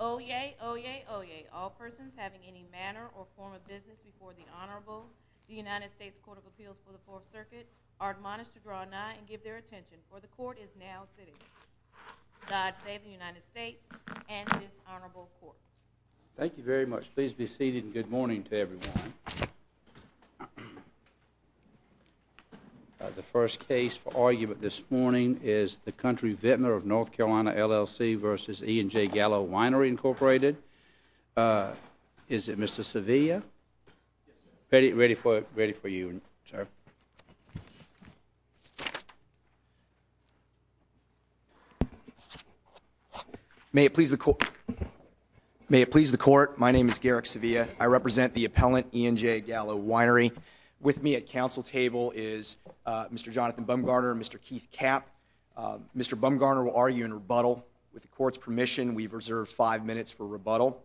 Oyez, oyez, oyez. All persons having any manner or form of business before the Honorable, the United States Court of Appeals for the Fourth Circuit, are admonished to draw nigh and give their attention, for the Court is now sitting. God save the United States and this Honorable Court. Thank you very much. Please be seated and good morning to everyone. The first case for argument this morning is the Country Vintner of NC LLC v. E & J Gallo Winery Incorporated. Is it Mr. Sevilla? Ready for you, sir. May it please the Court, my name is Garrick Sevilla. I represent the appellant, E & J Gallo Winery. With me at counsel table is Mr. Jonathan Bumgarner and Mr. Keith Kapp. Mr. Bumgarner will argue in rebuttal. With the Court's permission, we've reserved five minutes for rebuttal.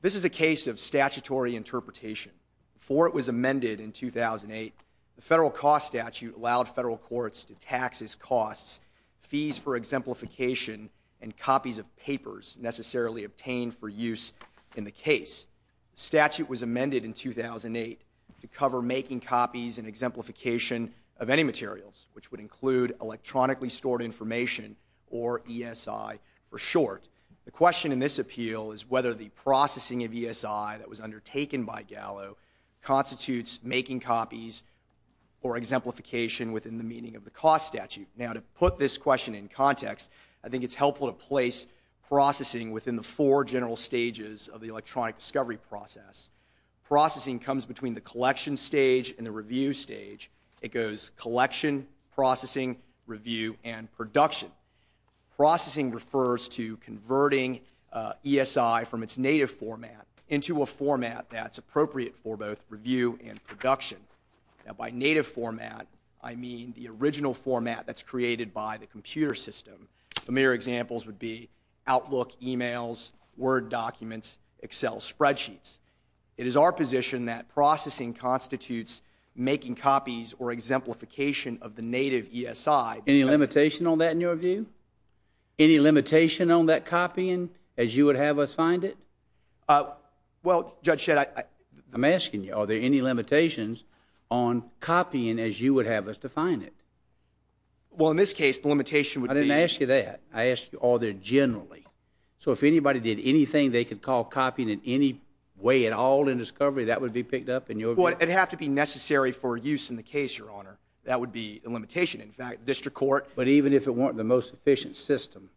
This is a case of statutory interpretation. Before it was amended in 2008, the federal cost statute allowed federal courts to tax its costs, fees for exemplification, and copies of papers necessarily obtained for use in the case. The statute was amended in 2008 to cover making copies and exemplification of any materials, which would include electronically stored information or ESI for short. The question in this appeal is whether the processing of ESI that was undertaken by Gallo constitutes making copies or exemplification within the meaning of the cost statute. Now, to put this question in context, I think it's helpful to place processing within the four general stages of the electronic discovery process. Processing comes between the collection stage and the review stage. It goes collection, processing, review, and production. Processing refers to converting ESI from its native format into a format that's appropriate for both review and production. Now, by native format, I mean the original format that's created by the computer system. Familiar examples would be Outlook emails, Word documents, Excel spreadsheets. It is our position that processing constitutes making copies or exemplification of the native ESI. Any limitation on that in your view? Any limitation on that copying as you would have us find it? Well, Judge Shedd, I'm asking you, are there any limitations on copying as you would have us define it? Well, in this case, the limitation would be— I didn't ask you that. I asked you, are there generally? So if anybody did anything they could call copying in any way at all in discovery, that would be picked up in your view? Well, it would have to be necessary for use in the case, Your Honor. That would be the limitation. But even if it weren't the most efficient system,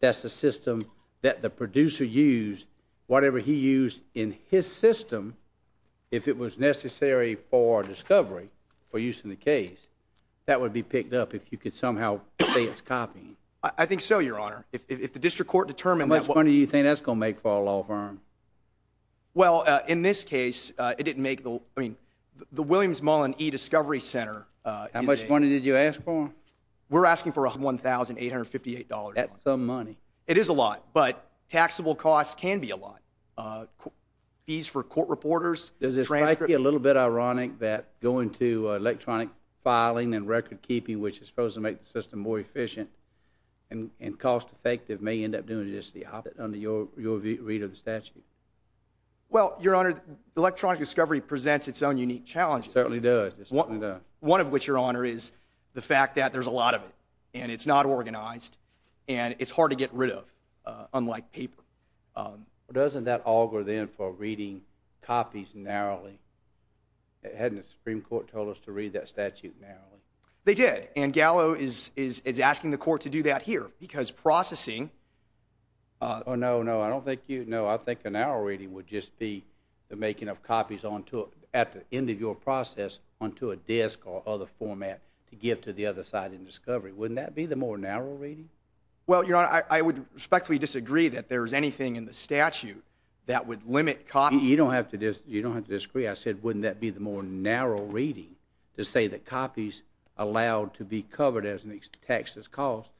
that's the system that the producer used, whatever he used in his system, if it was necessary for discovery, for use in the case, that would be picked up if you could somehow say it's copying. I think so, Your Honor. If the district court determined that— How much money do you think that's going to make for a law firm? Well, in this case, it didn't make—I mean, the Williams Mullen eDiscovery Center— How much money did you ask for? We're asking for $1,858. That's some money. It is a lot, but taxable costs can be a lot. Fees for court reporters, transcript— Does it strike you a little bit ironic that going to electronic filing and record keeping, which is supposed to make the system more efficient and cost-effective, may end up doing just the opposite under your read of the statute? Well, Your Honor, electronic discovery presents its own unique challenges. It certainly does. One of which, Your Honor, is the fact that there's a lot of it, and it's not organized, and it's hard to get rid of, unlike paper. Doesn't that auger then for reading copies narrowly? Hadn't the Supreme Court told us to read that statute narrowly? They did, and Gallo is asking the court to do that here because processing— Oh, no, no. I don't think you— to give to the other side in discovery. Wouldn't that be the more narrow reading? Well, Your Honor, I would respectfully disagree that there's anything in the statute that would limit copy— You don't have to disagree. I said, wouldn't that be the more narrow reading to say that copies allowed to be covered as taxes cost?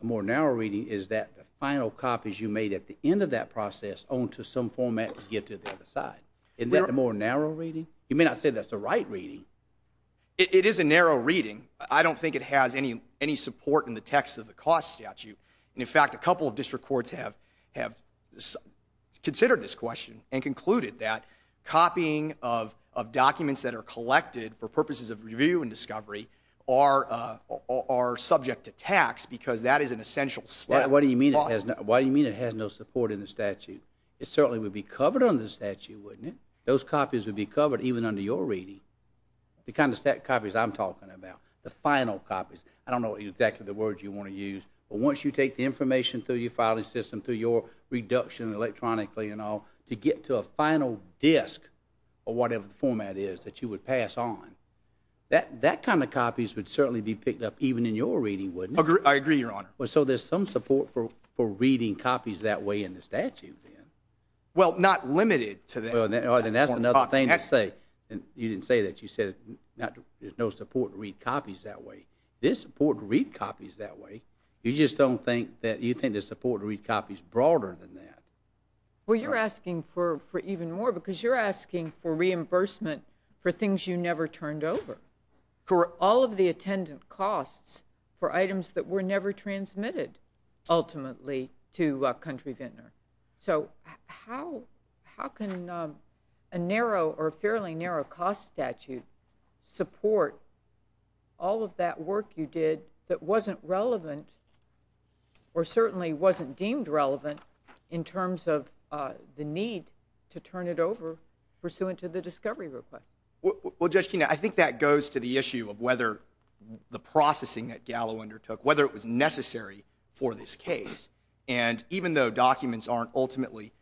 The more narrow reading is that the final copies you made at the end of that process own to some format to give to the other side. Isn't that the more narrow reading? You may not say that's the right reading. It is a narrow reading. I don't think it has any support in the text of the cost statute. In fact, a couple of district courts have considered this question and concluded that copying of documents that are collected for purposes of review and discovery are subject to tax because that is an essential step. Why do you mean it has no support in the statute? It certainly would be covered under the statute, wouldn't it? Those copies would be covered even under your reading. The kind of copies I'm talking about, the final copies. I don't know exactly the words you want to use, but once you take the information through your filing system, through your reduction electronically and all, to get to a final disk or whatever the format is that you would pass on, that kind of copies would certainly be picked up even in your reading, wouldn't it? I agree, Your Honor. So there's some support for reading copies that way in the statute, then? Well, not limited to that. Then that's another thing to say. You didn't say that. You said there's no support to read copies that way. There's support to read copies that way. You just don't think that you think there's support to read copies broader than that. Well, you're asking for even more because you're asking for reimbursement for things you never turned over, for all of the attendant costs, for items that were never transmitted ultimately to a country vendor. So how can a narrow or a fairly narrow cost statute support all of that work you did that wasn't relevant or certainly wasn't deemed relevant in terms of the need to turn it over pursuant to the discovery request? Well, Judge Kena, I think that goes to the issue of whether the processing that Gallo undertook, whether it was necessary for this case. And even though documents aren't ultimately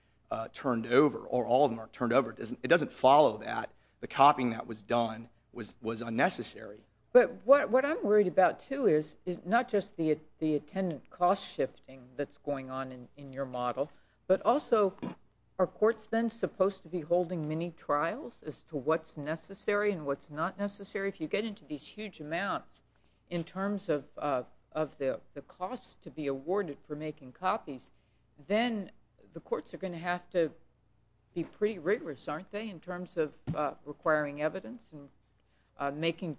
turned over or all of them are turned over, it doesn't follow that the copying that was done was unnecessary. But what I'm worried about, too, is not just the attendant cost shifting that's going on in your model, but also are courts then supposed to be holding mini-trials as to what's necessary and what's not necessary? If you get into these huge amounts in terms of the costs to be awarded for making copies, then the courts are going to have to be pretty rigorous, aren't they, in terms of requiring evidence and making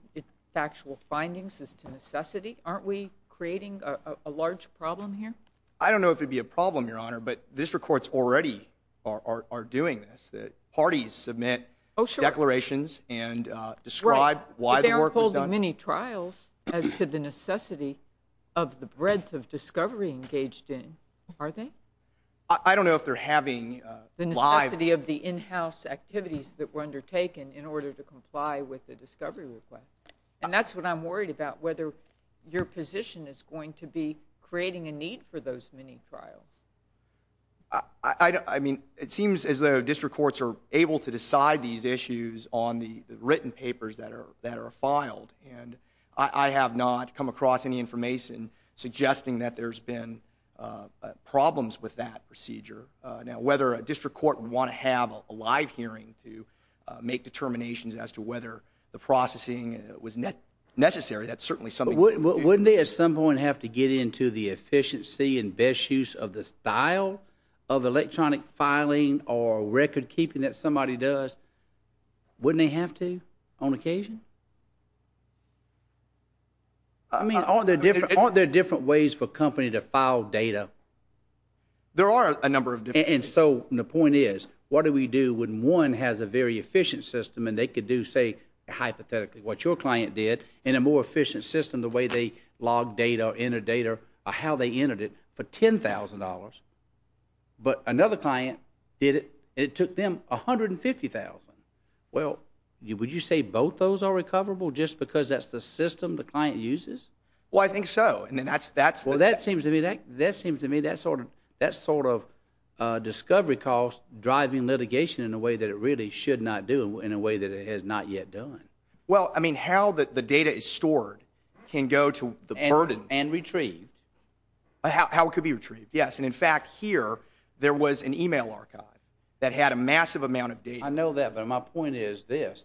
factual findings as to necessity? Aren't we creating a large problem here? I don't know if it would be a problem, Your Honor, but district courts already are doing this. Parties submit declarations and describe why the work was done. Right, but they aren't holding mini-trials as to the necessity of the breadth of discovery engaged in, are they? I don't know if they're having live. The necessity of the in-house activities that were undertaken in order to comply with the discovery request. And that's what I'm worried about, whether your position is going to be creating a need for those mini-trials. I mean, it seems as though district courts are able to decide these issues on the written papers that are filed, and I have not come across any information suggesting that there's been problems with that procedure. Now, whether a district court would want to have a live hearing to make determinations as to whether the processing was necessary, wouldn't they at some point have to get into the efficiency and best use of the style of electronic filing or record keeping that somebody does? Wouldn't they have to on occasion? I mean, aren't there different ways for a company to file data? There are a number of different ways. And so the point is, what do we do when one has a very efficient system, and they could do, say, hypothetically what your client did, and a more efficient system the way they log data, enter data, or how they entered it, for $10,000. But another client did it, and it took them $150,000. Well, would you say both those are recoverable just because that's the system the client uses? Well, I think so. Well, that seems to me that sort of discovery cost driving litigation in a way that it really should not do in a way that it has not yet done. Well, I mean, how the data is stored can go to the burden. And retrieved. How it could be retrieved, yes. And, in fact, here there was an e-mail archive that had a massive amount of data. I know that, but my point is this.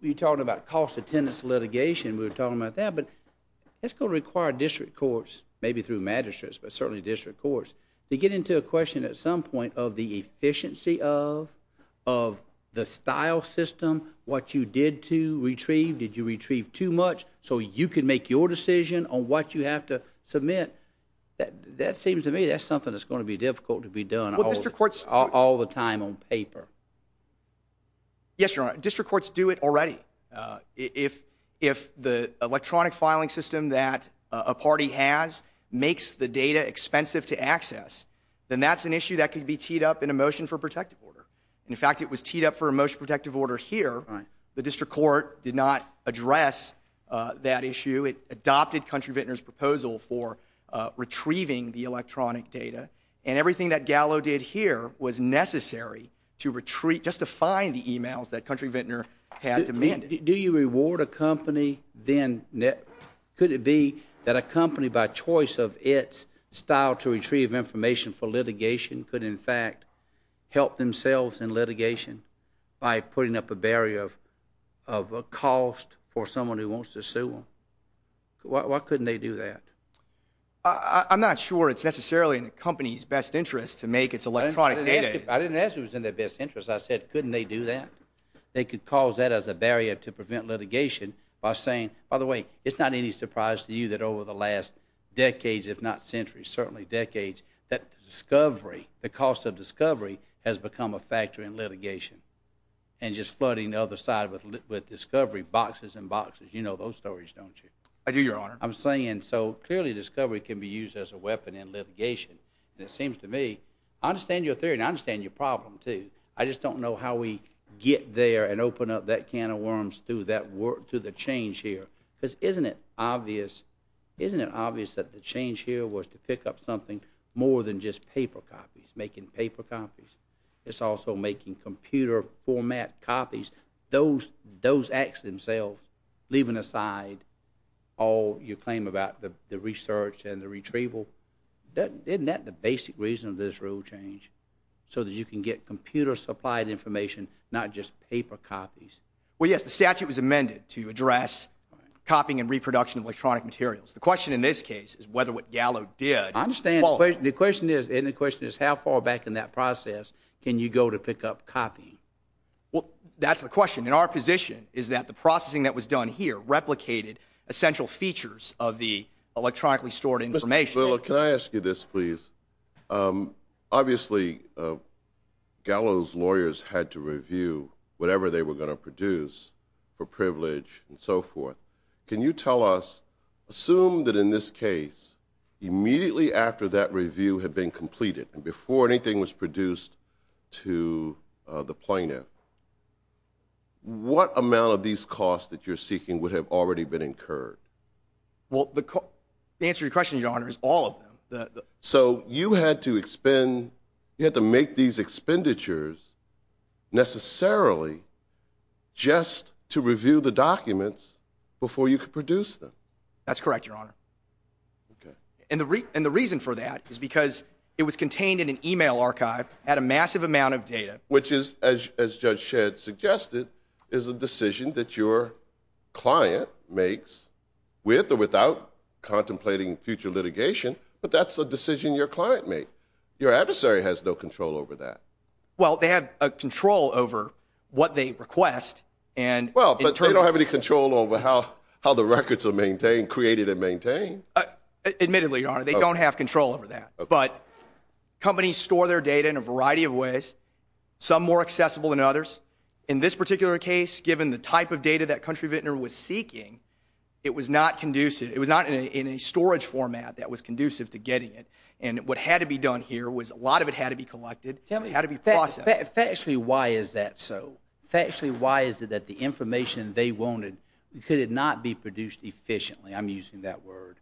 You're talking about cost attendance litigation. We were talking about that. But that's going to require district courts, maybe through magistrates, but certainly district courts, to get into a question at some point of the efficiency of the style system, what you did to retrieve. Did you retrieve too much so you could make your decision on what you have to submit? That seems to me that's something that's going to be difficult to be done all the time on paper. Yes, Your Honor. District courts do it already. If the electronic filing system that a party has makes the data expensive to access, then that's an issue that could be teed up in a motion for protective order. In fact, it was teed up for a motion for protective order here. The district court did not address that issue. It adopted Country Vintner's proposal for retrieving the electronic data. And everything that Gallo did here was necessary to retrieve, just to find the emails that Country Vintner had demanded. Do you reward a company then? Could it be that a company, by choice of its style to retrieve information for litigation, could in fact help themselves in litigation by putting up a barrier of cost for someone who wants to sue them? Why couldn't they do that? I'm not sure it's necessarily in the company's best interest to make its electronic data. I didn't ask if it was in their best interest. I said, couldn't they do that? They could cause that as a barrier to prevent litigation by saying, by the way, it's not any surprise to you that over the last decades, if not centuries, certainly decades, that discovery, the cost of discovery, has become a factor in litigation, and just flooding the other side with discovery boxes and boxes. You know those stories, don't you? I do, Your Honor. I'm saying, so clearly discovery can be used as a weapon in litigation. And it seems to me, I understand your theory and I understand your problem, too. I just don't know how we get there and open up that can of worms to the change here. Because isn't it obvious that the change here was to pick up something more than just paper copies, making paper copies? It's also making computer format copies. Those acts themselves, leaving aside all your claim about the research and the retrieval, isn't that the basic reason of this rule change? So that you can get computer-supplied information, not just paper copies. Well, yes, the statute was amended to address copying and reproduction of electronic materials. The question in this case is whether what Gallo did was qualified. I understand. The question is, and the question is, how far back in that process can you go to pick up copying? Well, that's the question. And our position is that the processing that was done here replicated essential features of the electronically stored information. Mr. Biller, can I ask you this, please? Obviously, Gallo's lawyers had to review whatever they were going to produce for privilege and so forth. Can you tell us, assume that in this case, immediately after that review had been completed, and before anything was produced to the plaintiff, what amount of these costs that you're seeking would have already been incurred? Well, the answer to your question, Your Honor, is all of them. So you had to expend, you had to make these expenditures necessarily just to review the documents before you could produce them? That's correct, Your Honor. Okay. And the reason for that is because it was contained in an e-mail archive, had a massive amount of data. Which is, as Judge Shedd suggested, is a decision that your client makes with or without contemplating future litigation, but that's a decision your client made. Your adversary has no control over that. Well, they have control over what they request. Well, but they don't have any control over how the records are maintained, created and maintained. Admittedly, Your Honor, they don't have control over that. But companies store their data in a variety of ways, some more accessible than others. In this particular case, given the type of data that Country Vintner was seeking, it was not conducive. It was not in a storage format that was conducive to getting it. And what had to be done here was a lot of it had to be collected, had to be processed. Tell me, factually, why is that so? Factually, why is it that the information they wanted could not be produced efficiently? I'm using that word.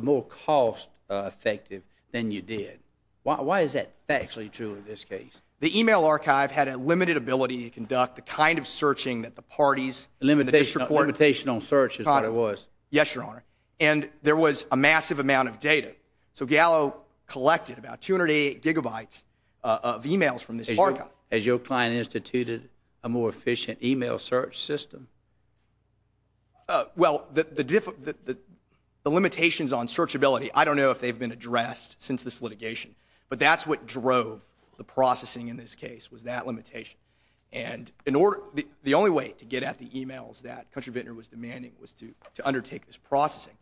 More cost effective than you did. Why is that factually true in this case? The e-mail archive had a limited ability to conduct the kind of searching that the parties in the district court… Limitation on search is what it was. Yes, Your Honor. And there was a massive amount of data. So Gallo collected about 288 gigabytes of e-mails from this archive. Has your client instituted a more efficient e-mail search system? Well, the limitations on searchability, I don't know if they've been addressed since this litigation, but that's what drove the processing in this case was that limitation. And the only way to get at the e-mails that Country Vintner was demanding was to undertake this processing.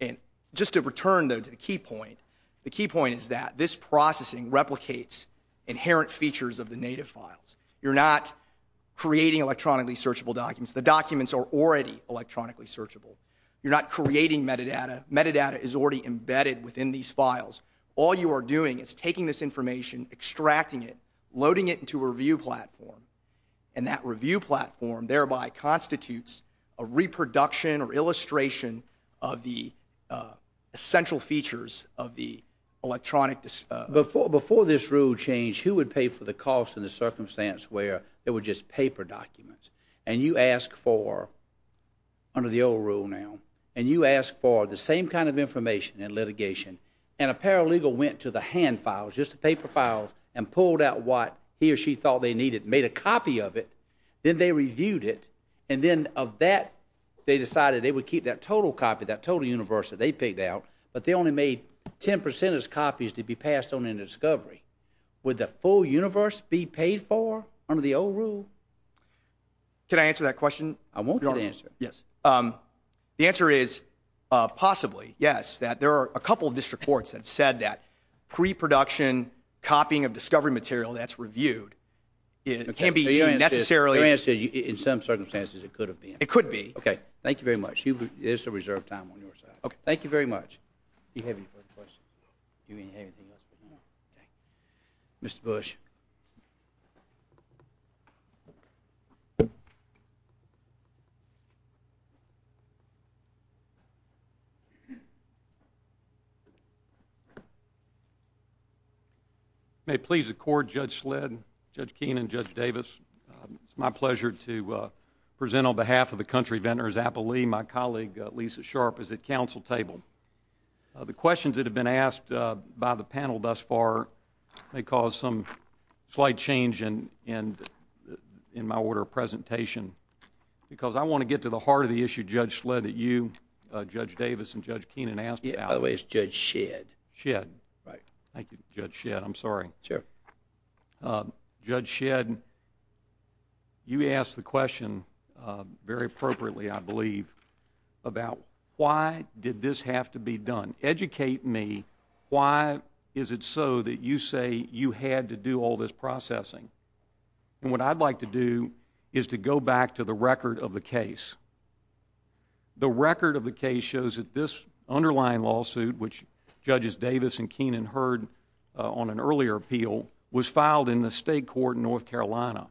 And just to return, though, to the key point, the key point is that this processing replicates inherent features of the native files. You're not creating electronically searchable documents. The documents are already electronically searchable. You're not creating metadata. Metadata is already embedded within these files. All you are doing is taking this information, extracting it, loading it into a review platform, and that review platform thereby constitutes a reproduction or illustration of the essential features of the electronic. Before this rule changed, who would pay for the cost and the circumstance where it was just paper documents? And you ask for, under the old rule now, and you ask for the same kind of information in litigation, and a paralegal went to the hand files, just the paper files, and pulled out what he or she thought they needed and made a copy of it, then they reviewed it, and then of that they decided they would keep that total copy, that total universe that they picked out, but they only made 10 percentage copies to be passed on into discovery. Would the full universe be paid for under the old rule? Can I answer that question? I want you to answer it. Yes. The answer is possibly, yes, that there are a couple of district courts that have said that preproduction, copying of discovery material that's reviewed can't be necessarily Your answer is in some circumstances it could have been. It could be. Okay. Thank you very much. There's some reserved time on your side. Okay. Thank you very much. Do you have any further questions? Do you have anything else? No. Okay. Mr. Bush. May it please the Court, Judge Sledd, Judge Keenan, Judge Davis, it's my pleasure to present on behalf of the Country Vendors Appellee my colleague, Lisa Sharp, as a counsel table. The questions that have been asked by the panel thus far may cause some slight change in my order of presentation because I want to get to the heart of the issue, Judge Sledd, that you, Judge Davis, and Judge Keenan asked about. By the way, it's Judge Shedd. Shedd. Right. Thank you, Judge Shedd. I'm sorry. Sure. Judge Shedd, you asked the question very appropriately, I believe, about why did this have to be done. Educate me. Why is it so that you say you had to do all this processing? And what I'd like to do is to go back to the record of the case. The record of the case shows that this underlying lawsuit, which Judges Davis and Keenan heard on an earlier appeal, was filed in the state court in North Carolina.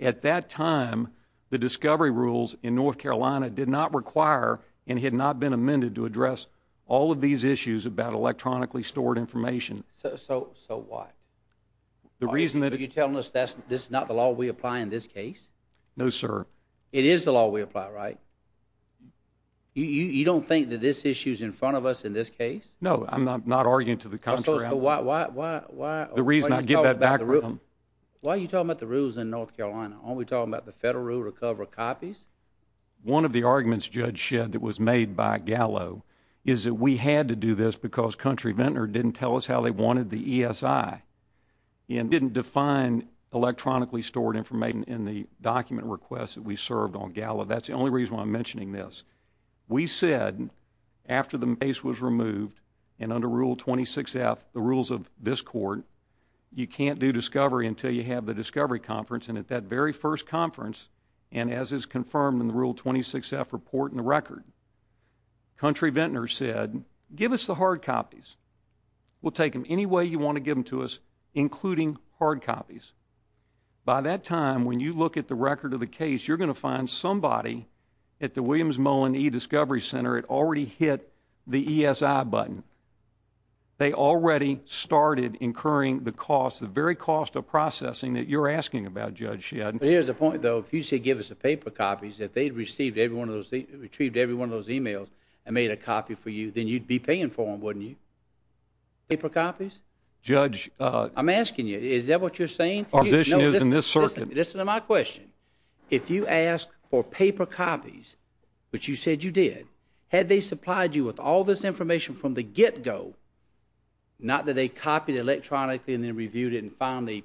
At that time, the discovery rules in North Carolina did not require and had not been amended to address all of these issues about electronically stored information. So what? Are you telling us this is not the law we apply in this case? No, sir. It is the law we apply, right? You don't think that this issue is in front of us in this case? No, I'm not arguing to the contrary. So why are you talking about the rules in North Carolina? Aren't we talking about the federal rule to cover copies? One of the arguments, Judge Shedd, that was made by Gallo is that we had to do this because Country Ventnor didn't tell us how they wanted the ESI and didn't define electronically stored information in the document requests that we served on Gallo. That's the only reason why I'm mentioning this. We said after the case was removed and under Rule 26F, the rules of this court, you can't do discovery until you have the discovery conference. And at that very first conference, and as is confirmed in the Rule 26F report in the record, Country Ventnor said, give us the hard copies. We'll take them any way you want to give them to us, including hard copies. By that time, when you look at the record of the case, you're going to find somebody at the Williams Mullen eDiscovery Center had already hit the ESI button. They already started incurring the cost, the very cost of processing that you're asking about, Judge Shedd. But here's the point, though. If you say give us the paper copies, if they'd received every one of those, and made a copy for you, then you'd be paying for them, wouldn't you? Paper copies? Judge. I'm asking you, is that what you're saying? Our position is in this circuit. Listen to my question. If you ask for paper copies, which you said you did, had they supplied you with all this information from the get-go, not that they copied it electronically and then reviewed it and finally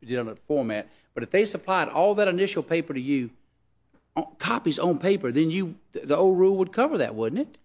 did it on a format, but if they supplied all that initial paper to you, copies on paper, then the old rule would cover that, wouldn't it?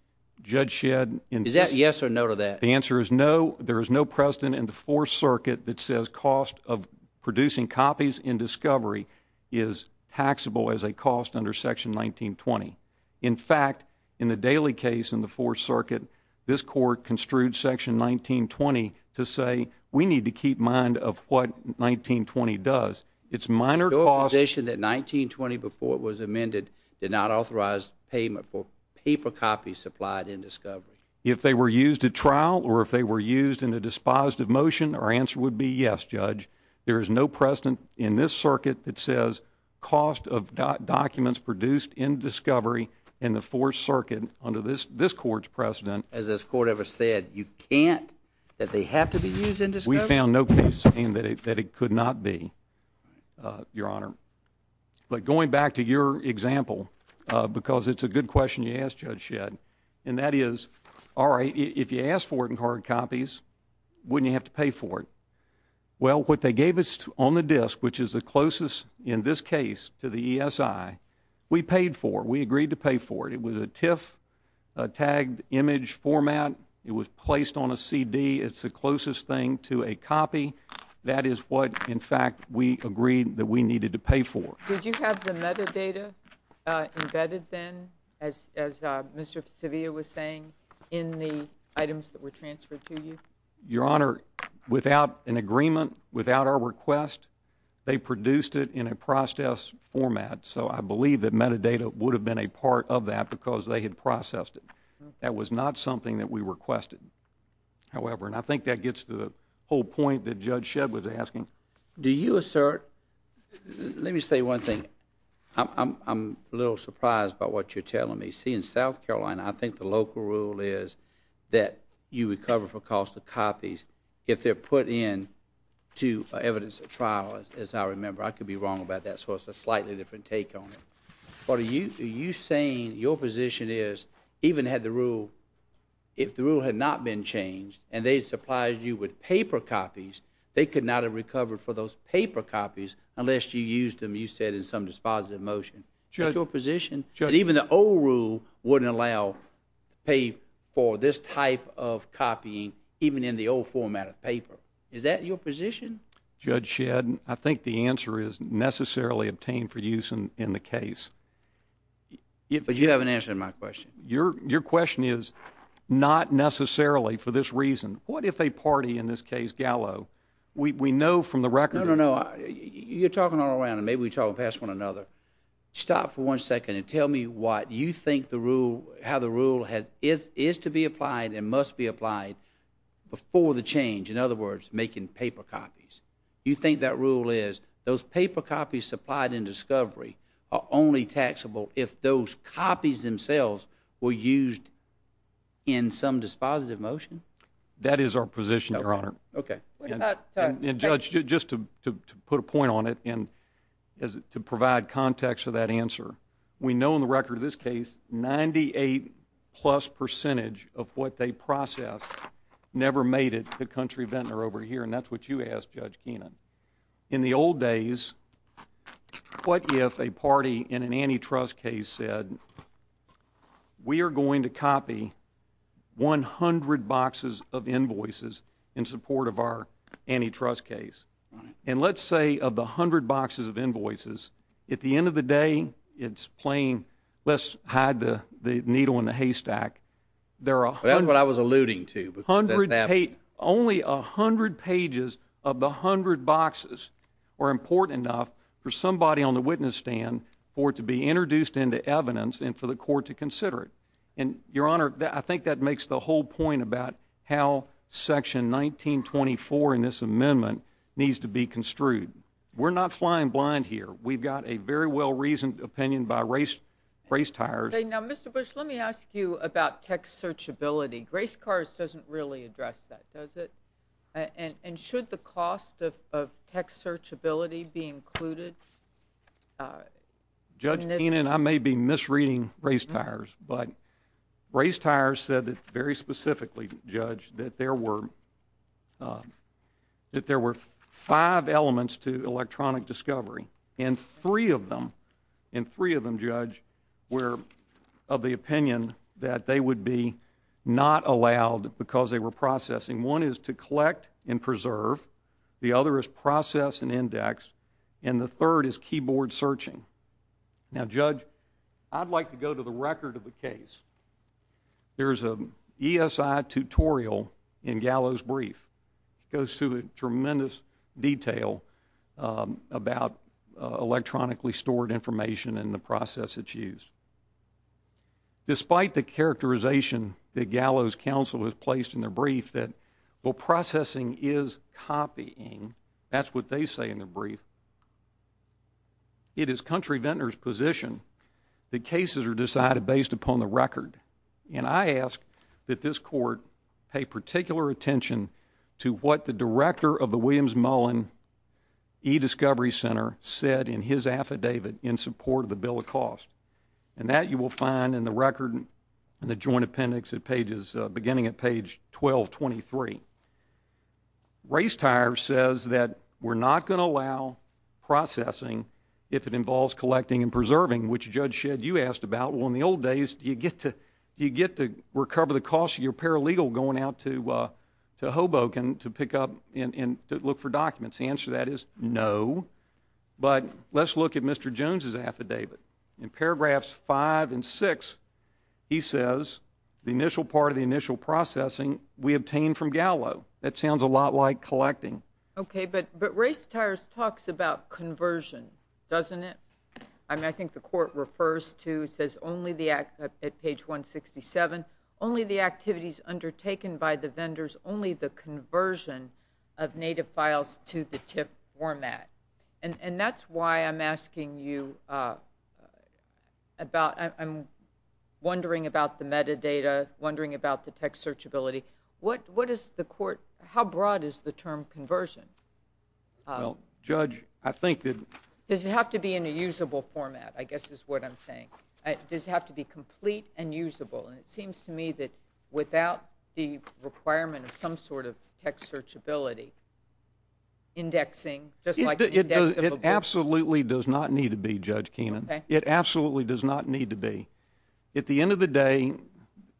Judge Shedd. Is that yes or no to that? The answer is no. There is no precedent in the Fourth Circuit that says cost of producing copies in Discovery is taxable as a cost under Section 1920. In fact, in the Daley case in the Fourth Circuit, this Court construed Section 1920 to say we need to keep mind of what 1920 does. It's minor cost. Your position that 1920, before it was amended, did not authorize payment for paper copies supplied in Discovery? If they were used at trial or if they were used in a dispositive motion, our answer would be yes, Judge. There is no precedent in this circuit that says cost of documents produced in Discovery in the Fourth Circuit under this Court's precedent. As this Court ever said, you can't, that they have to be used in Discovery? We found no case saying that it could not be, Your Honor. But going back to your example, because it's a good question you asked, Judge Shedd, and that is, all right, if you ask for it in hard copies, wouldn't you have to pay for it? Well, what they gave us on the disk, which is the closest in this case to the ESI, we paid for it. We agreed to pay for it. It was a TIFF tagged image format. It was placed on a CD. It's the closest thing to a copy. That is what, in fact, we agreed that we needed to pay for. Did you have the metadata embedded then, as Mr. Sevilla was saying, in the items that were transferred to you? Your Honor, without an agreement, without our request, they produced it in a process format. So I believe that metadata would have been a part of that because they had processed it. That was not something that we requested. However, and I think that gets to the whole point that Judge Shedd was asking. Do you assert? Let me say one thing. I'm a little surprised by what you're telling me. See, in South Carolina, I think the local rule is that you recover for cost of copies if they're put into evidence of trial, as I remember. I could be wrong about that, so it's a slightly different take on it. What are you saying your position is, even had the rule, if the rule had not been changed and they had supplied you with paper copies, they could not have recovered for those paper copies unless you used them, you said, in some dispositive motion. Is that your position? And even the old rule wouldn't allow pay for this type of copying, even in the old format of paper. Is that your position? Judge Shedd, I think the answer is necessarily obtained for use in the case. But you haven't answered my question. Your question is not necessarily for this reason. What if a party, in this case Gallo, we know from the record. No, no, no. You're talking all around, and maybe we're talking past one another. Stop for one second and tell me what you think the rule, how the rule is to be applied and must be applied before the change. In other words, making paper copies. You think that rule is those paper copies supplied in discovery are only taxable if those copies themselves were used in some dispositive motion? That is our position, Your Honor. Okay. And, Judge, just to put a point on it and to provide context for that answer, we know in the record of this case 98-plus percentage of what they processed never made it to Country Ventnor over here, and that's what you asked, Judge Keenan. In the old days, what if a party in an antitrust case said, we are going to copy 100 boxes of invoices in support of our antitrust case. And let's say of the 100 boxes of invoices, at the end of the day, it's plain, let's hide the needle in the haystack. That's what I was alluding to. Only 100 pages of the 100 boxes are important enough for somebody on the witness stand for it to be introduced into evidence and for the court to consider it. And, Your Honor, I think that makes the whole point about how Section 1924 in this amendment needs to be construed. We're not flying blind here. We've got a very well-reasoned opinion by race tires. Now, Mr. Bush, let me ask you about text searchability. Race cars doesn't really address that, does it? And should the cost of text searchability be included? Judge Keenan, I may be misreading race tires, but race tires said that very specifically, Judge, that there were five elements to electronic discovery, and three of them, Judge, were of the opinion that they would be not allowed because they were processing. One is to collect and preserve. The other is process and index. And the third is keyboard searching. Now, Judge, I'd like to go to the record of the case. There's an ESI tutorial in Gallo's brief. It goes through tremendous detail about electronically stored information and the process it's used. Despite the characterization that Gallo's counsel has placed in their brief that while processing is copying, that's what they say in their brief, it is country vendors' position that cases are decided based upon the record. And I ask that this court pay particular attention to what the director of the Williams Mullen eDiscovery Center said in his affidavit in support of the bill of cost. And that you will find in the record and the joint appendix beginning at page 1223. Race tires says that we're not going to allow processing if it involves collecting and preserving, which, Judge Shedd, you asked about. Well, in the old days, do you get to recover the cost of your paralegal going out to Hoboken to pick up and look for documents? The answer to that is no. But let's look at Mr. Jones' affidavit. In paragraphs 5 and 6, he says the initial part of the initial processing we obtained from Gallo. That sounds a lot like collecting. Okay, but race tires talks about conversion, doesn't it? I mean, I think the court refers to, it says only at page 167, only the activities undertaken by the vendors, only the conversion of native files to the TIFF format. And that's why I'm asking you about, I'm wondering about the metadata, wondering about the text searchability. What is the court, how broad is the term conversion? Well, Judge, I think that... Does it have to be in a usable format, I guess is what I'm saying. Does it have to be complete and usable? And it seems to me that without the requirement of some sort of text searchability, indexing, just like indexable books. It absolutely does not need to be, Judge Keenan. It absolutely does not need to be. At the end of the day,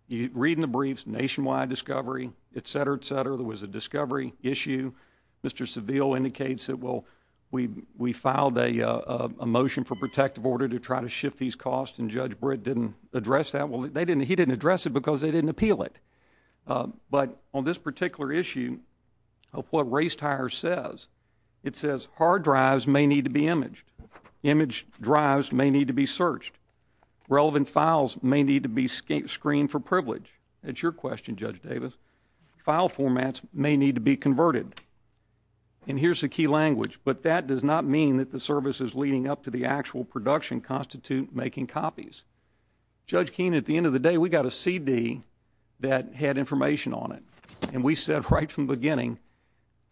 you read in the briefs, nationwide discovery, et cetera, et cetera, there was a discovery issue. Mr. Seville indicates that, well, we filed a motion for protective order to try to shift these costs, and Judge Britt didn't address that. Well, he didn't address it because they didn't appeal it. But on this particular issue of what race tires says, it says hard drives may need to be imaged. Imaged drives may need to be searched. Relevant files may need to be screened for privilege. That's your question, Judge Davis. File formats may need to be converted. And here's the key language. But that does not mean that the services leading up to the actual production constitute making copies. Judge Keenan, at the end of the day, we got a CD that had information on it. And we said right from the beginning,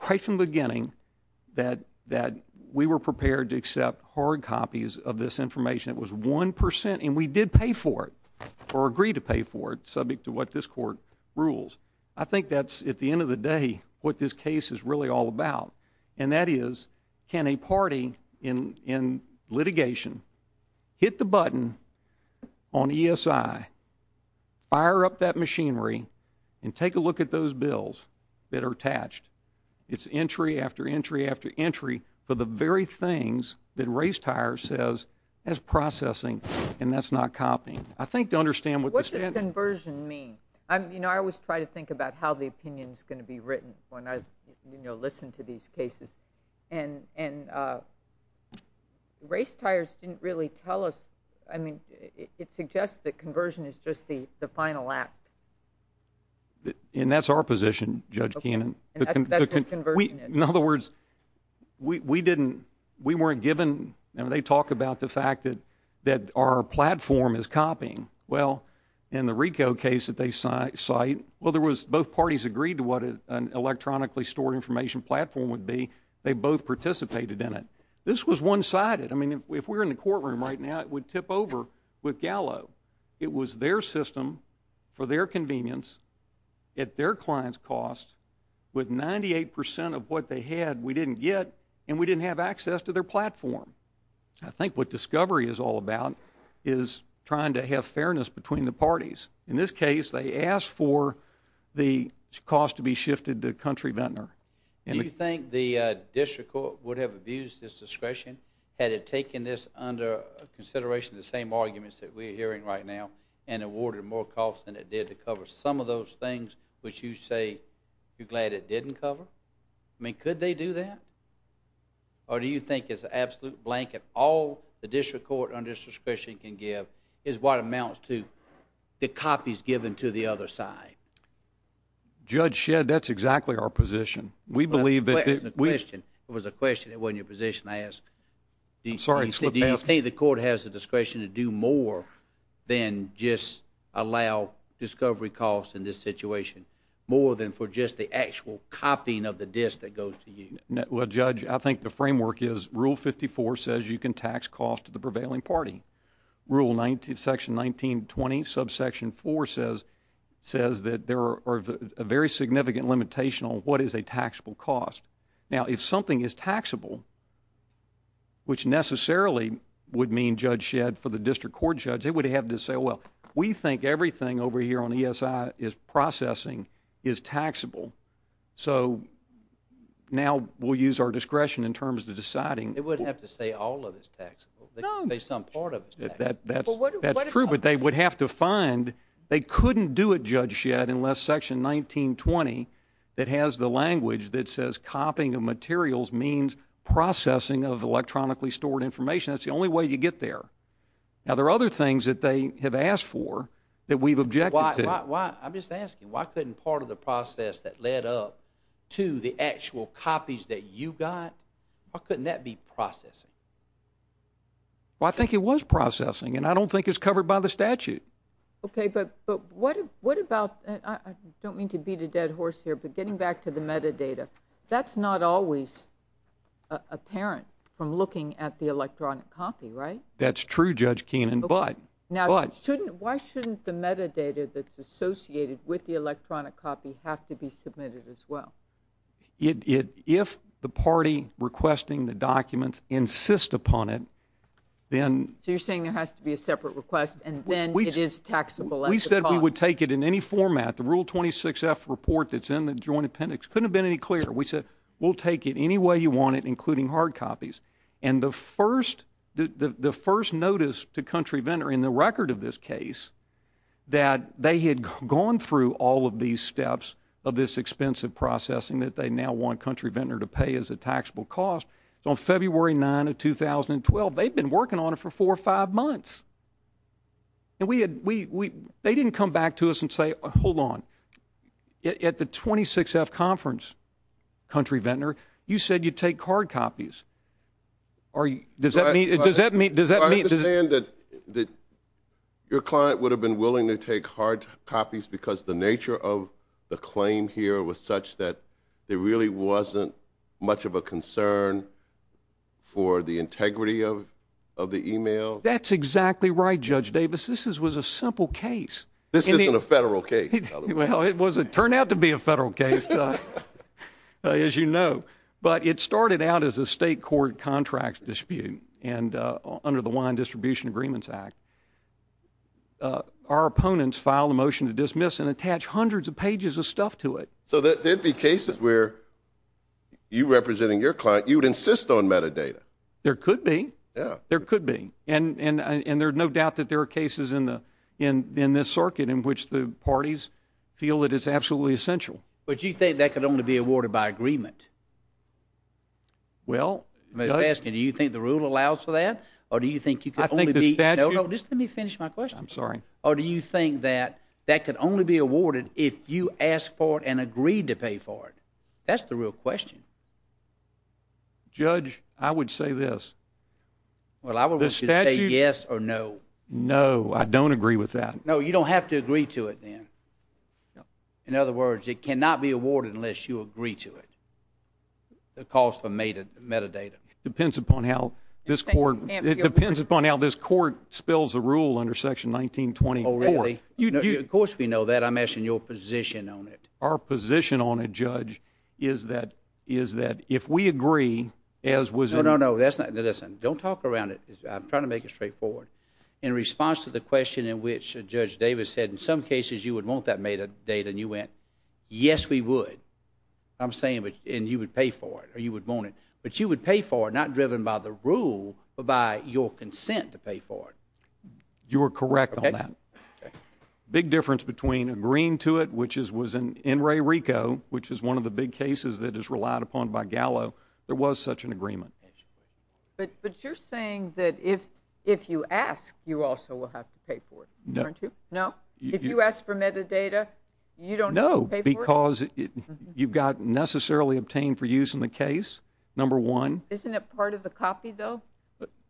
right from the beginning, that we were prepared to accept hard copies of this information. It was 1%, and we did pay for it or agree to pay for it, but this is not what we're doing. This is what we're doing. I mean, I always try to think about how the opinion is going to be written when I listen to these cases, and race tires didn't really tell us. I mean, it suggests that conversion is just the final act. And that's our position, Judge Keenan. In other words, we didn't – we weren't given – they talk about the fact that our platform is copying. Well, in the RICO case that they cite, well, there was – both parties agreed to what an electronically stored information platform would be. They both participated in it. This was one-sided. I mean, if we were in the courtroom right now, it would tip over with Gallo. It was their system for their convenience at their client's cost with 98% of what they had we didn't get, and we didn't have access to their platform. I think what discovery is all about is trying to have fairness between the parties. In this case, they asked for the cost to be shifted to Country Ventnor. Do you think the district court would have abused its discretion had it taken this under consideration, the same arguments that we're hearing right now, and awarded more costs than it did to cover some of those things which you say you're glad it didn't cover? I mean, could they do that? Or do you think it's an absolute blanket? All the district court under this discretion can give is what amounts to the copies given to the other side. Judge Shedd, that's exactly our position. We believe that we— That wasn't a question. It was a question. It wasn't your position to ask. I'm sorry. Do you think the court has the discretion to do more than just allow discovery costs in this situation, more than for just the actual copying of the disk that goes to you? Well, Judge, I think the framework is Rule 54 says you can tax costs to the prevailing party. Rule section 1920, subsection 4 says that there are very significant limitations on what is a taxable cost. Now, if something is taxable, which necessarily would mean, Judge Shedd, for the district court judge, they would have to say, well, we think everything over here on ESI is processing is taxable. So now we'll use our discretion in terms of deciding— They wouldn't have to say all of it is taxable. No. They could say some part of it is taxable. That's true, but they would have to find— they couldn't do it, Judge Shedd, unless section 1920, that has the language that says copying of materials means processing of electronically stored information. That's the only way you get there. Now, there are other things that they have asked for that we've objected to. I'm just asking, why couldn't part of the process that led up to the actual copies that you got, why couldn't that be processing? Well, I think it was processing, and I don't think it's covered by the statute. Okay, but what about— I don't mean to beat a dead horse here, but getting back to the metadata, that's not always apparent from looking at the electronic copy, right? That's true, Judge Keenan, but— Now, why shouldn't the metadata that's associated with the electronic copy have to be submitted as well? If the party requesting the documents insists upon it, then— So you're saying there has to be a separate request, and then it is taxable at the cost. We said we would take it in any format. The Rule 26-F report that's in the Joint Appendix couldn't have been any clearer. We said, we'll take it any way you want it, including hard copies. And the first notice to Country Vendor in the record of this case that they had gone through all of these steps of this expensive processing that they now want Country Vendor to pay as a taxable cost, on February 9 of 2012, they'd been working on it for four or five months. They didn't come back to us and say, hold on, at the 26-F conference, Country Vendor, you said you'd take hard copies. Does that mean— I understand that your client would have been willing to take hard copies because the nature of the claim here was such that there really wasn't much of a concern for the integrity of the email. That's exactly right, Judge Davis. This was a simple case. This isn't a federal case. Well, it turned out to be a federal case, as you know. But it started out as a state court contract dispute under the Wine Distribution Agreements Act. Our opponents filed a motion to dismiss and attach hundreds of pages of stuff to it. So there'd be cases where you representing your client, you'd insist on metadata. There could be. There could be. And there's no doubt that there are cases in this circuit in which the parties feel that it's absolutely essential. But you think that could only be awarded by agreement? Well— I'm just asking, do you think the rule allows for that? Or do you think you could only be— I think the statute— No, no, just let me finish my question. I'm sorry. Or do you think that that could only be awarded if you asked for it and agreed to pay for it? That's the real question. Judge, I would say this. Well, I would say yes or no. No, I don't agree with that. No, you don't have to agree to it then. In other words, it cannot be awarded unless you agree to it. It calls for metadata. It depends upon how this court— It depends upon how this court spills the rule under Section 1924. Oh, really? Of course we know that. I'm asking your position on it. Our position on it, Judge, is that if we agree, as was— No, no, no. Listen, don't talk around it. I'm trying to make it straightforward. In response to the question in which Judge Davis said, in some cases you would want that metadata, and you went, yes, we would. I'm saying you would pay for it or you would want it. But you would pay for it, not driven by the rule, but by your consent to pay for it. You are correct on that. Big difference between agreeing to it, which was in Ray Rico, which is one of the big cases that is relied upon by Gallo, there was such an agreement. But you're saying that if you ask, you also will have to pay for it, aren't you? No. No? If you ask for metadata, you don't have to pay for it? No, because you've got necessarily obtained for use in the case, number one. Isn't it part of the copy, though?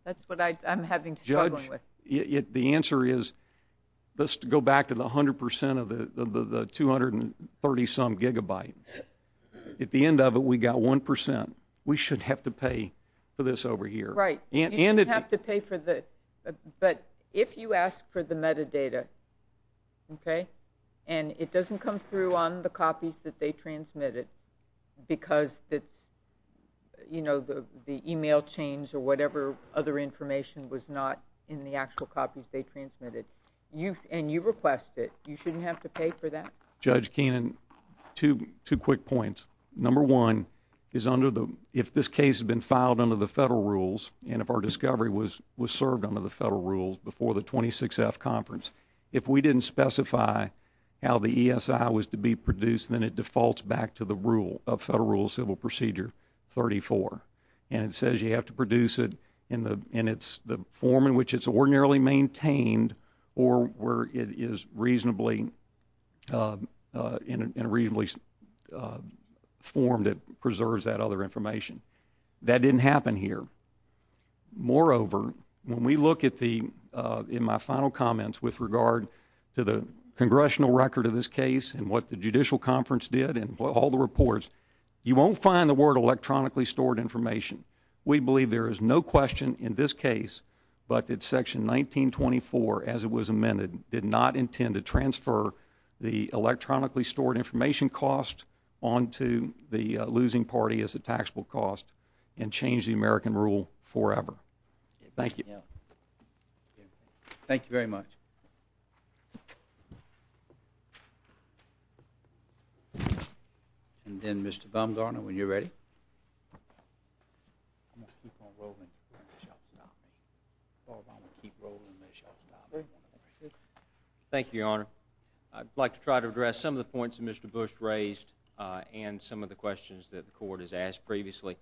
That's what I'm having trouble with. Judge, the answer is, let's go back to the 100 percent of the 230-some gigabyte. At the end of it, we've got 1 percent. We should have to pay for this over here. Right. You should have to pay for this. But if you ask for the metadata, okay, and it doesn't come through on the copies that they transmitted because it's, you know, the e-mail change or whatever other information was not in the actual copies they transmitted, and you request it, you shouldn't have to pay for that? Judge Keenan, two quick points. Number one, if this case had been filed under the federal rules and if our discovery was served under the federal rules before the 26-F conference, if we didn't specify how the ESI was to be produced, then it defaults back to the rule of Federal Rule of Civil Procedure 34. And it says you have to produce it in the form in which it's ordinarily maintained or where it is reasonably formed that preserves that other information. That didn't happen here. Moreover, when we look at the, in my final comments, with regard to the congressional record of this case and what the judicial conference did and all the reports, you won't find the word electronically stored information. We believe there is no question in this case, but that Section 1924, as it was amended, did not intend to transfer the electronically stored information cost onto the losing party as a taxable cost and change the American rule forever. Thank you. Thank you very much. And then, Mr. Bumgarner, when you're ready. I'm going to keep on rolling. I'm going to keep rolling. Thank you, Your Honor. I'd like to try to address some of the points that Mr. Bush raised and some of the questions that the court has asked previously.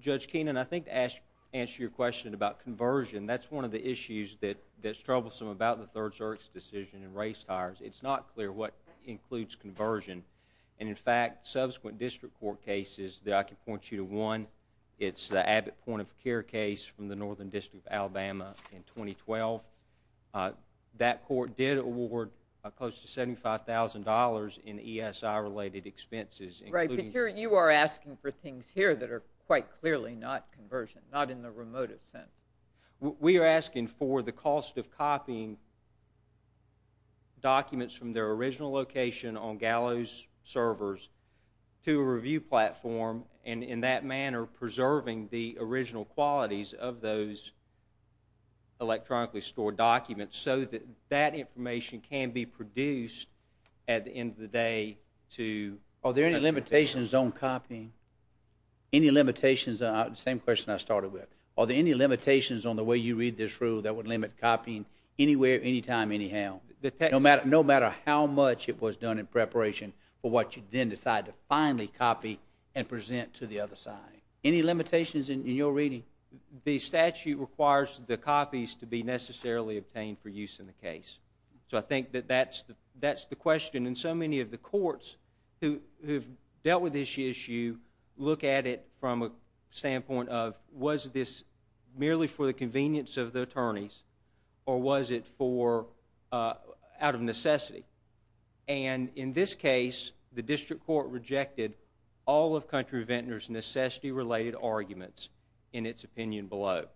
Judge Keenan, I think to answer your question about conversion, that's one of the issues that's troublesome about the Third Circuit's decision in race tires. It's not clear what includes conversion. And, in fact, subsequent district court cases that I can point you to one, it's the Abbott Point of Care case from the Northern District of Alabama in 2012. That court did award close to $75,000 in ESI-related expenses. Right, but you are asking for things here that are quite clearly not conversion, not in the remotest sense. We are asking for the cost of copying documents from their original location on Gallo's servers to a review platform and, in that manner, preserving the original qualities of those electronically stored documents so that that information can be produced at the end of the day to Are there any limitations on copying? Any limitations, same question I started with. Are there any limitations on the way you read this rule that would limit copying anywhere, anytime, anyhow? No matter how much it was done in preparation for what you then decide to finally copy and present to the other side. Any limitations in your reading? The statute requires the copies to be necessarily obtained for use in the case. So I think that that's the question. And so many of the courts who have dealt with this issue look at it from a standpoint of was this merely for the convenience of the attorneys or was it out of necessity? And, in this case, the district court rejected all of Country Ventner's necessity-related arguments in its opinion below.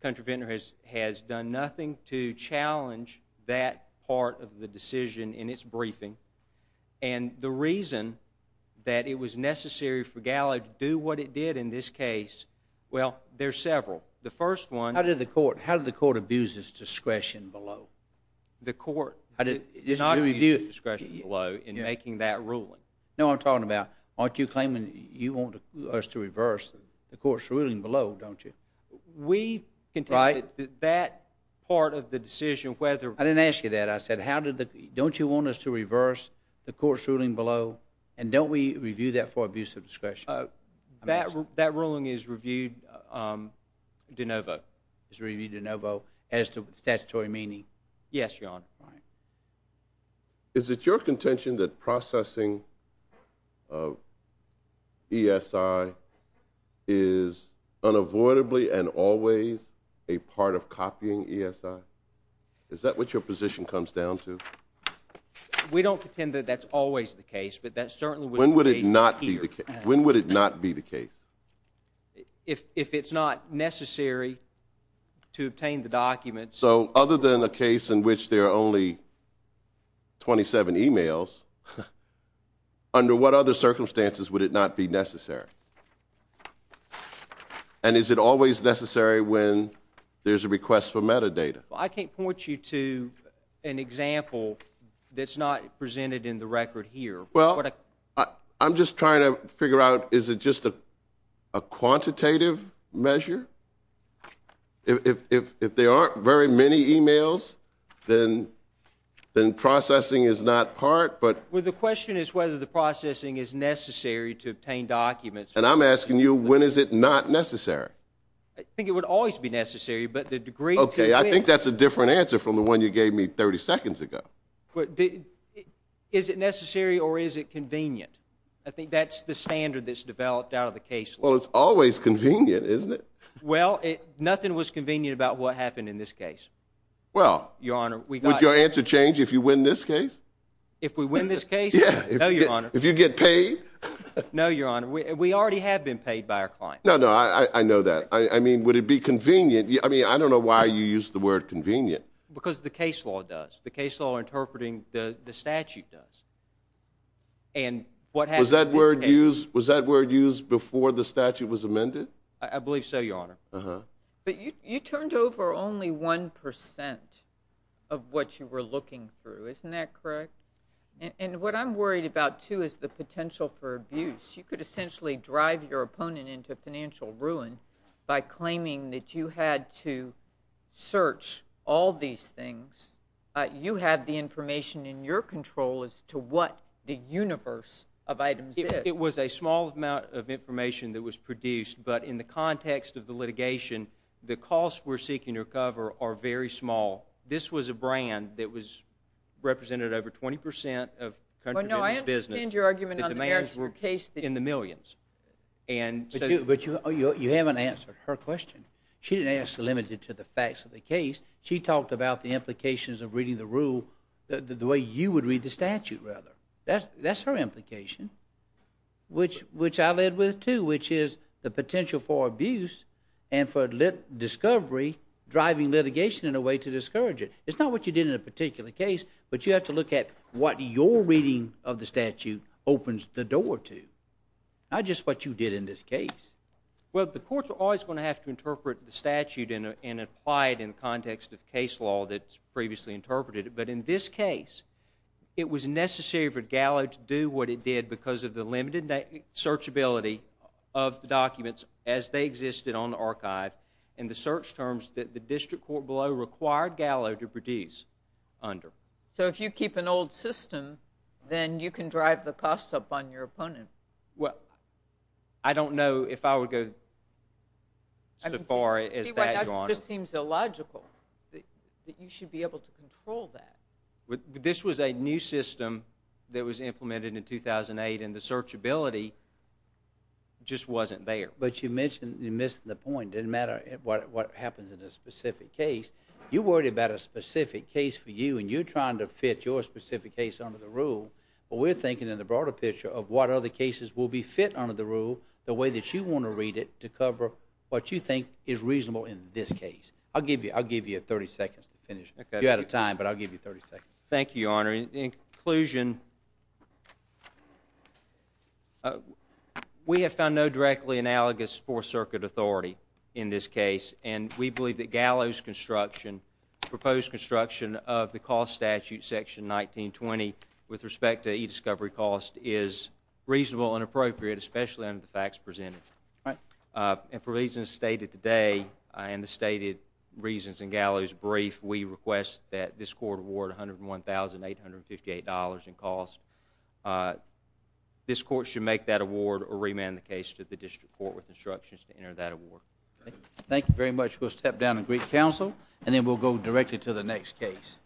Country Ventner has done nothing to challenge that part of the decision in its briefing. And the reason that it was necessary for Gallo to do what it did in this case, well, there's several. The first one- How did the court abuse its discretion below? The court did not abuse its discretion below in making that ruling. No, I'm talking about aren't you claiming you want us to reverse the court's ruling below, don't you? We contended that part of the decision, whether- I didn't ask you that. I said don't you want us to reverse the court's ruling below and don't we review that for abuse of discretion? That ruling is reviewed de novo. It's reviewed de novo as to statutory meaning. Yes, Your Honor. All right. Is it your contention that processing ESI is unavoidably and always a part of copying ESI? Is that what your position comes down to? We don't contend that that's always the case, but that certainly- When would it not be the case? If it's not necessary to obtain the documents- So other than a case in which there are only 27 e-mails, under what other circumstances would it not be necessary? And is it always necessary when there's a request for metadata? I can't point you to an example that's not presented in the record here. I'm just trying to figure out is it just a quantitative measure? If there aren't very many e-mails, then processing is not part, but- Well, the question is whether the processing is necessary to obtain documents. And I'm asking you when is it not necessary? I think it would always be necessary, but the degree to which- Okay, I think that's a different answer from the one you gave me 30 seconds ago. Is it necessary or is it convenient? I think that's the standard that's developed out of the case law. Well, it's always convenient, isn't it? Well, nothing was convenient about what happened in this case. Well- Your Honor, we got- Would your answer change if you win this case? If we win this case? Yeah. No, Your Honor. If you get paid? No, Your Honor. We already have been paid by our client. No, no, I know that. I mean, would it be convenient? I mean, I don't know why you used the word convenient. Because the case law does. The case law interpreting the statute does. Was that word used before the statute was amended? I believe so, Your Honor. But you turned over only 1% of what you were looking through. Isn't that correct? And what I'm worried about, too, is the potential for abuse. You could essentially drive your opponent into financial ruin by claiming that you had to search all these things. You have the information in your control as to what the universe of items is. It was a small amount of information that was produced. But in the context of the litigation, the costs we're seeking to recover are very small. This was a brand that represented over 20% of country business business. Well, no, I understand your argument on the Paris case. In the millions. But you haven't answered her question. She didn't ask limited to the facts of the case. She talked about the implications of reading the rule the way you would read the statute, rather. That's her implication. Which I led with, too, which is the potential for abuse and for discovery driving litigation in a way to discourage it. It's not what you did in a particular case, but you have to look at what your reading of the statute opens the door to. Not just what you did in this case. Well, the courts are always going to have to interpret the statute and apply it in the context of case law that's previously interpreted. But in this case, it was necessary for Gallo to do what it did because of the limited searchability of the documents as they existed on the archive and the search terms that the district court below required Gallo to produce under. So if you keep an old system, then you can drive the costs up on your opponent. Well, I don't know if I would go so far as that, Your Honor. That just seems illogical, that you should be able to control that. This was a new system that was implemented in 2008, and the searchability just wasn't there. But you mentioned you missed the point. It doesn't matter what happens in a specific case. You're worried about a specific case for you, and you're trying to fit your specific case under the rule. But we're thinking in the broader picture of what other cases will be fit under the rule the way that you want to read it to cover what you think is reasonable in this case. I'll give you 30 seconds to finish. You're out of time, but I'll give you 30 seconds. Thank you, Your Honor. In conclusion, we have found no directly analogous Fourth Circuit authority in this case, and we believe that Gallo's construction, proposed construction of the cost statute section 19-20 with respect to e-discovery cost is reasonable and appropriate, especially under the facts presented. And for reasons stated today and the stated reasons in Gallo's brief, we request that this court award $101,858 in cost. This court should make that award or remand the case to the district court with instructions to enter that award. Thank you very much. We'll step down and greet counsel, and then we'll go directly to the next case.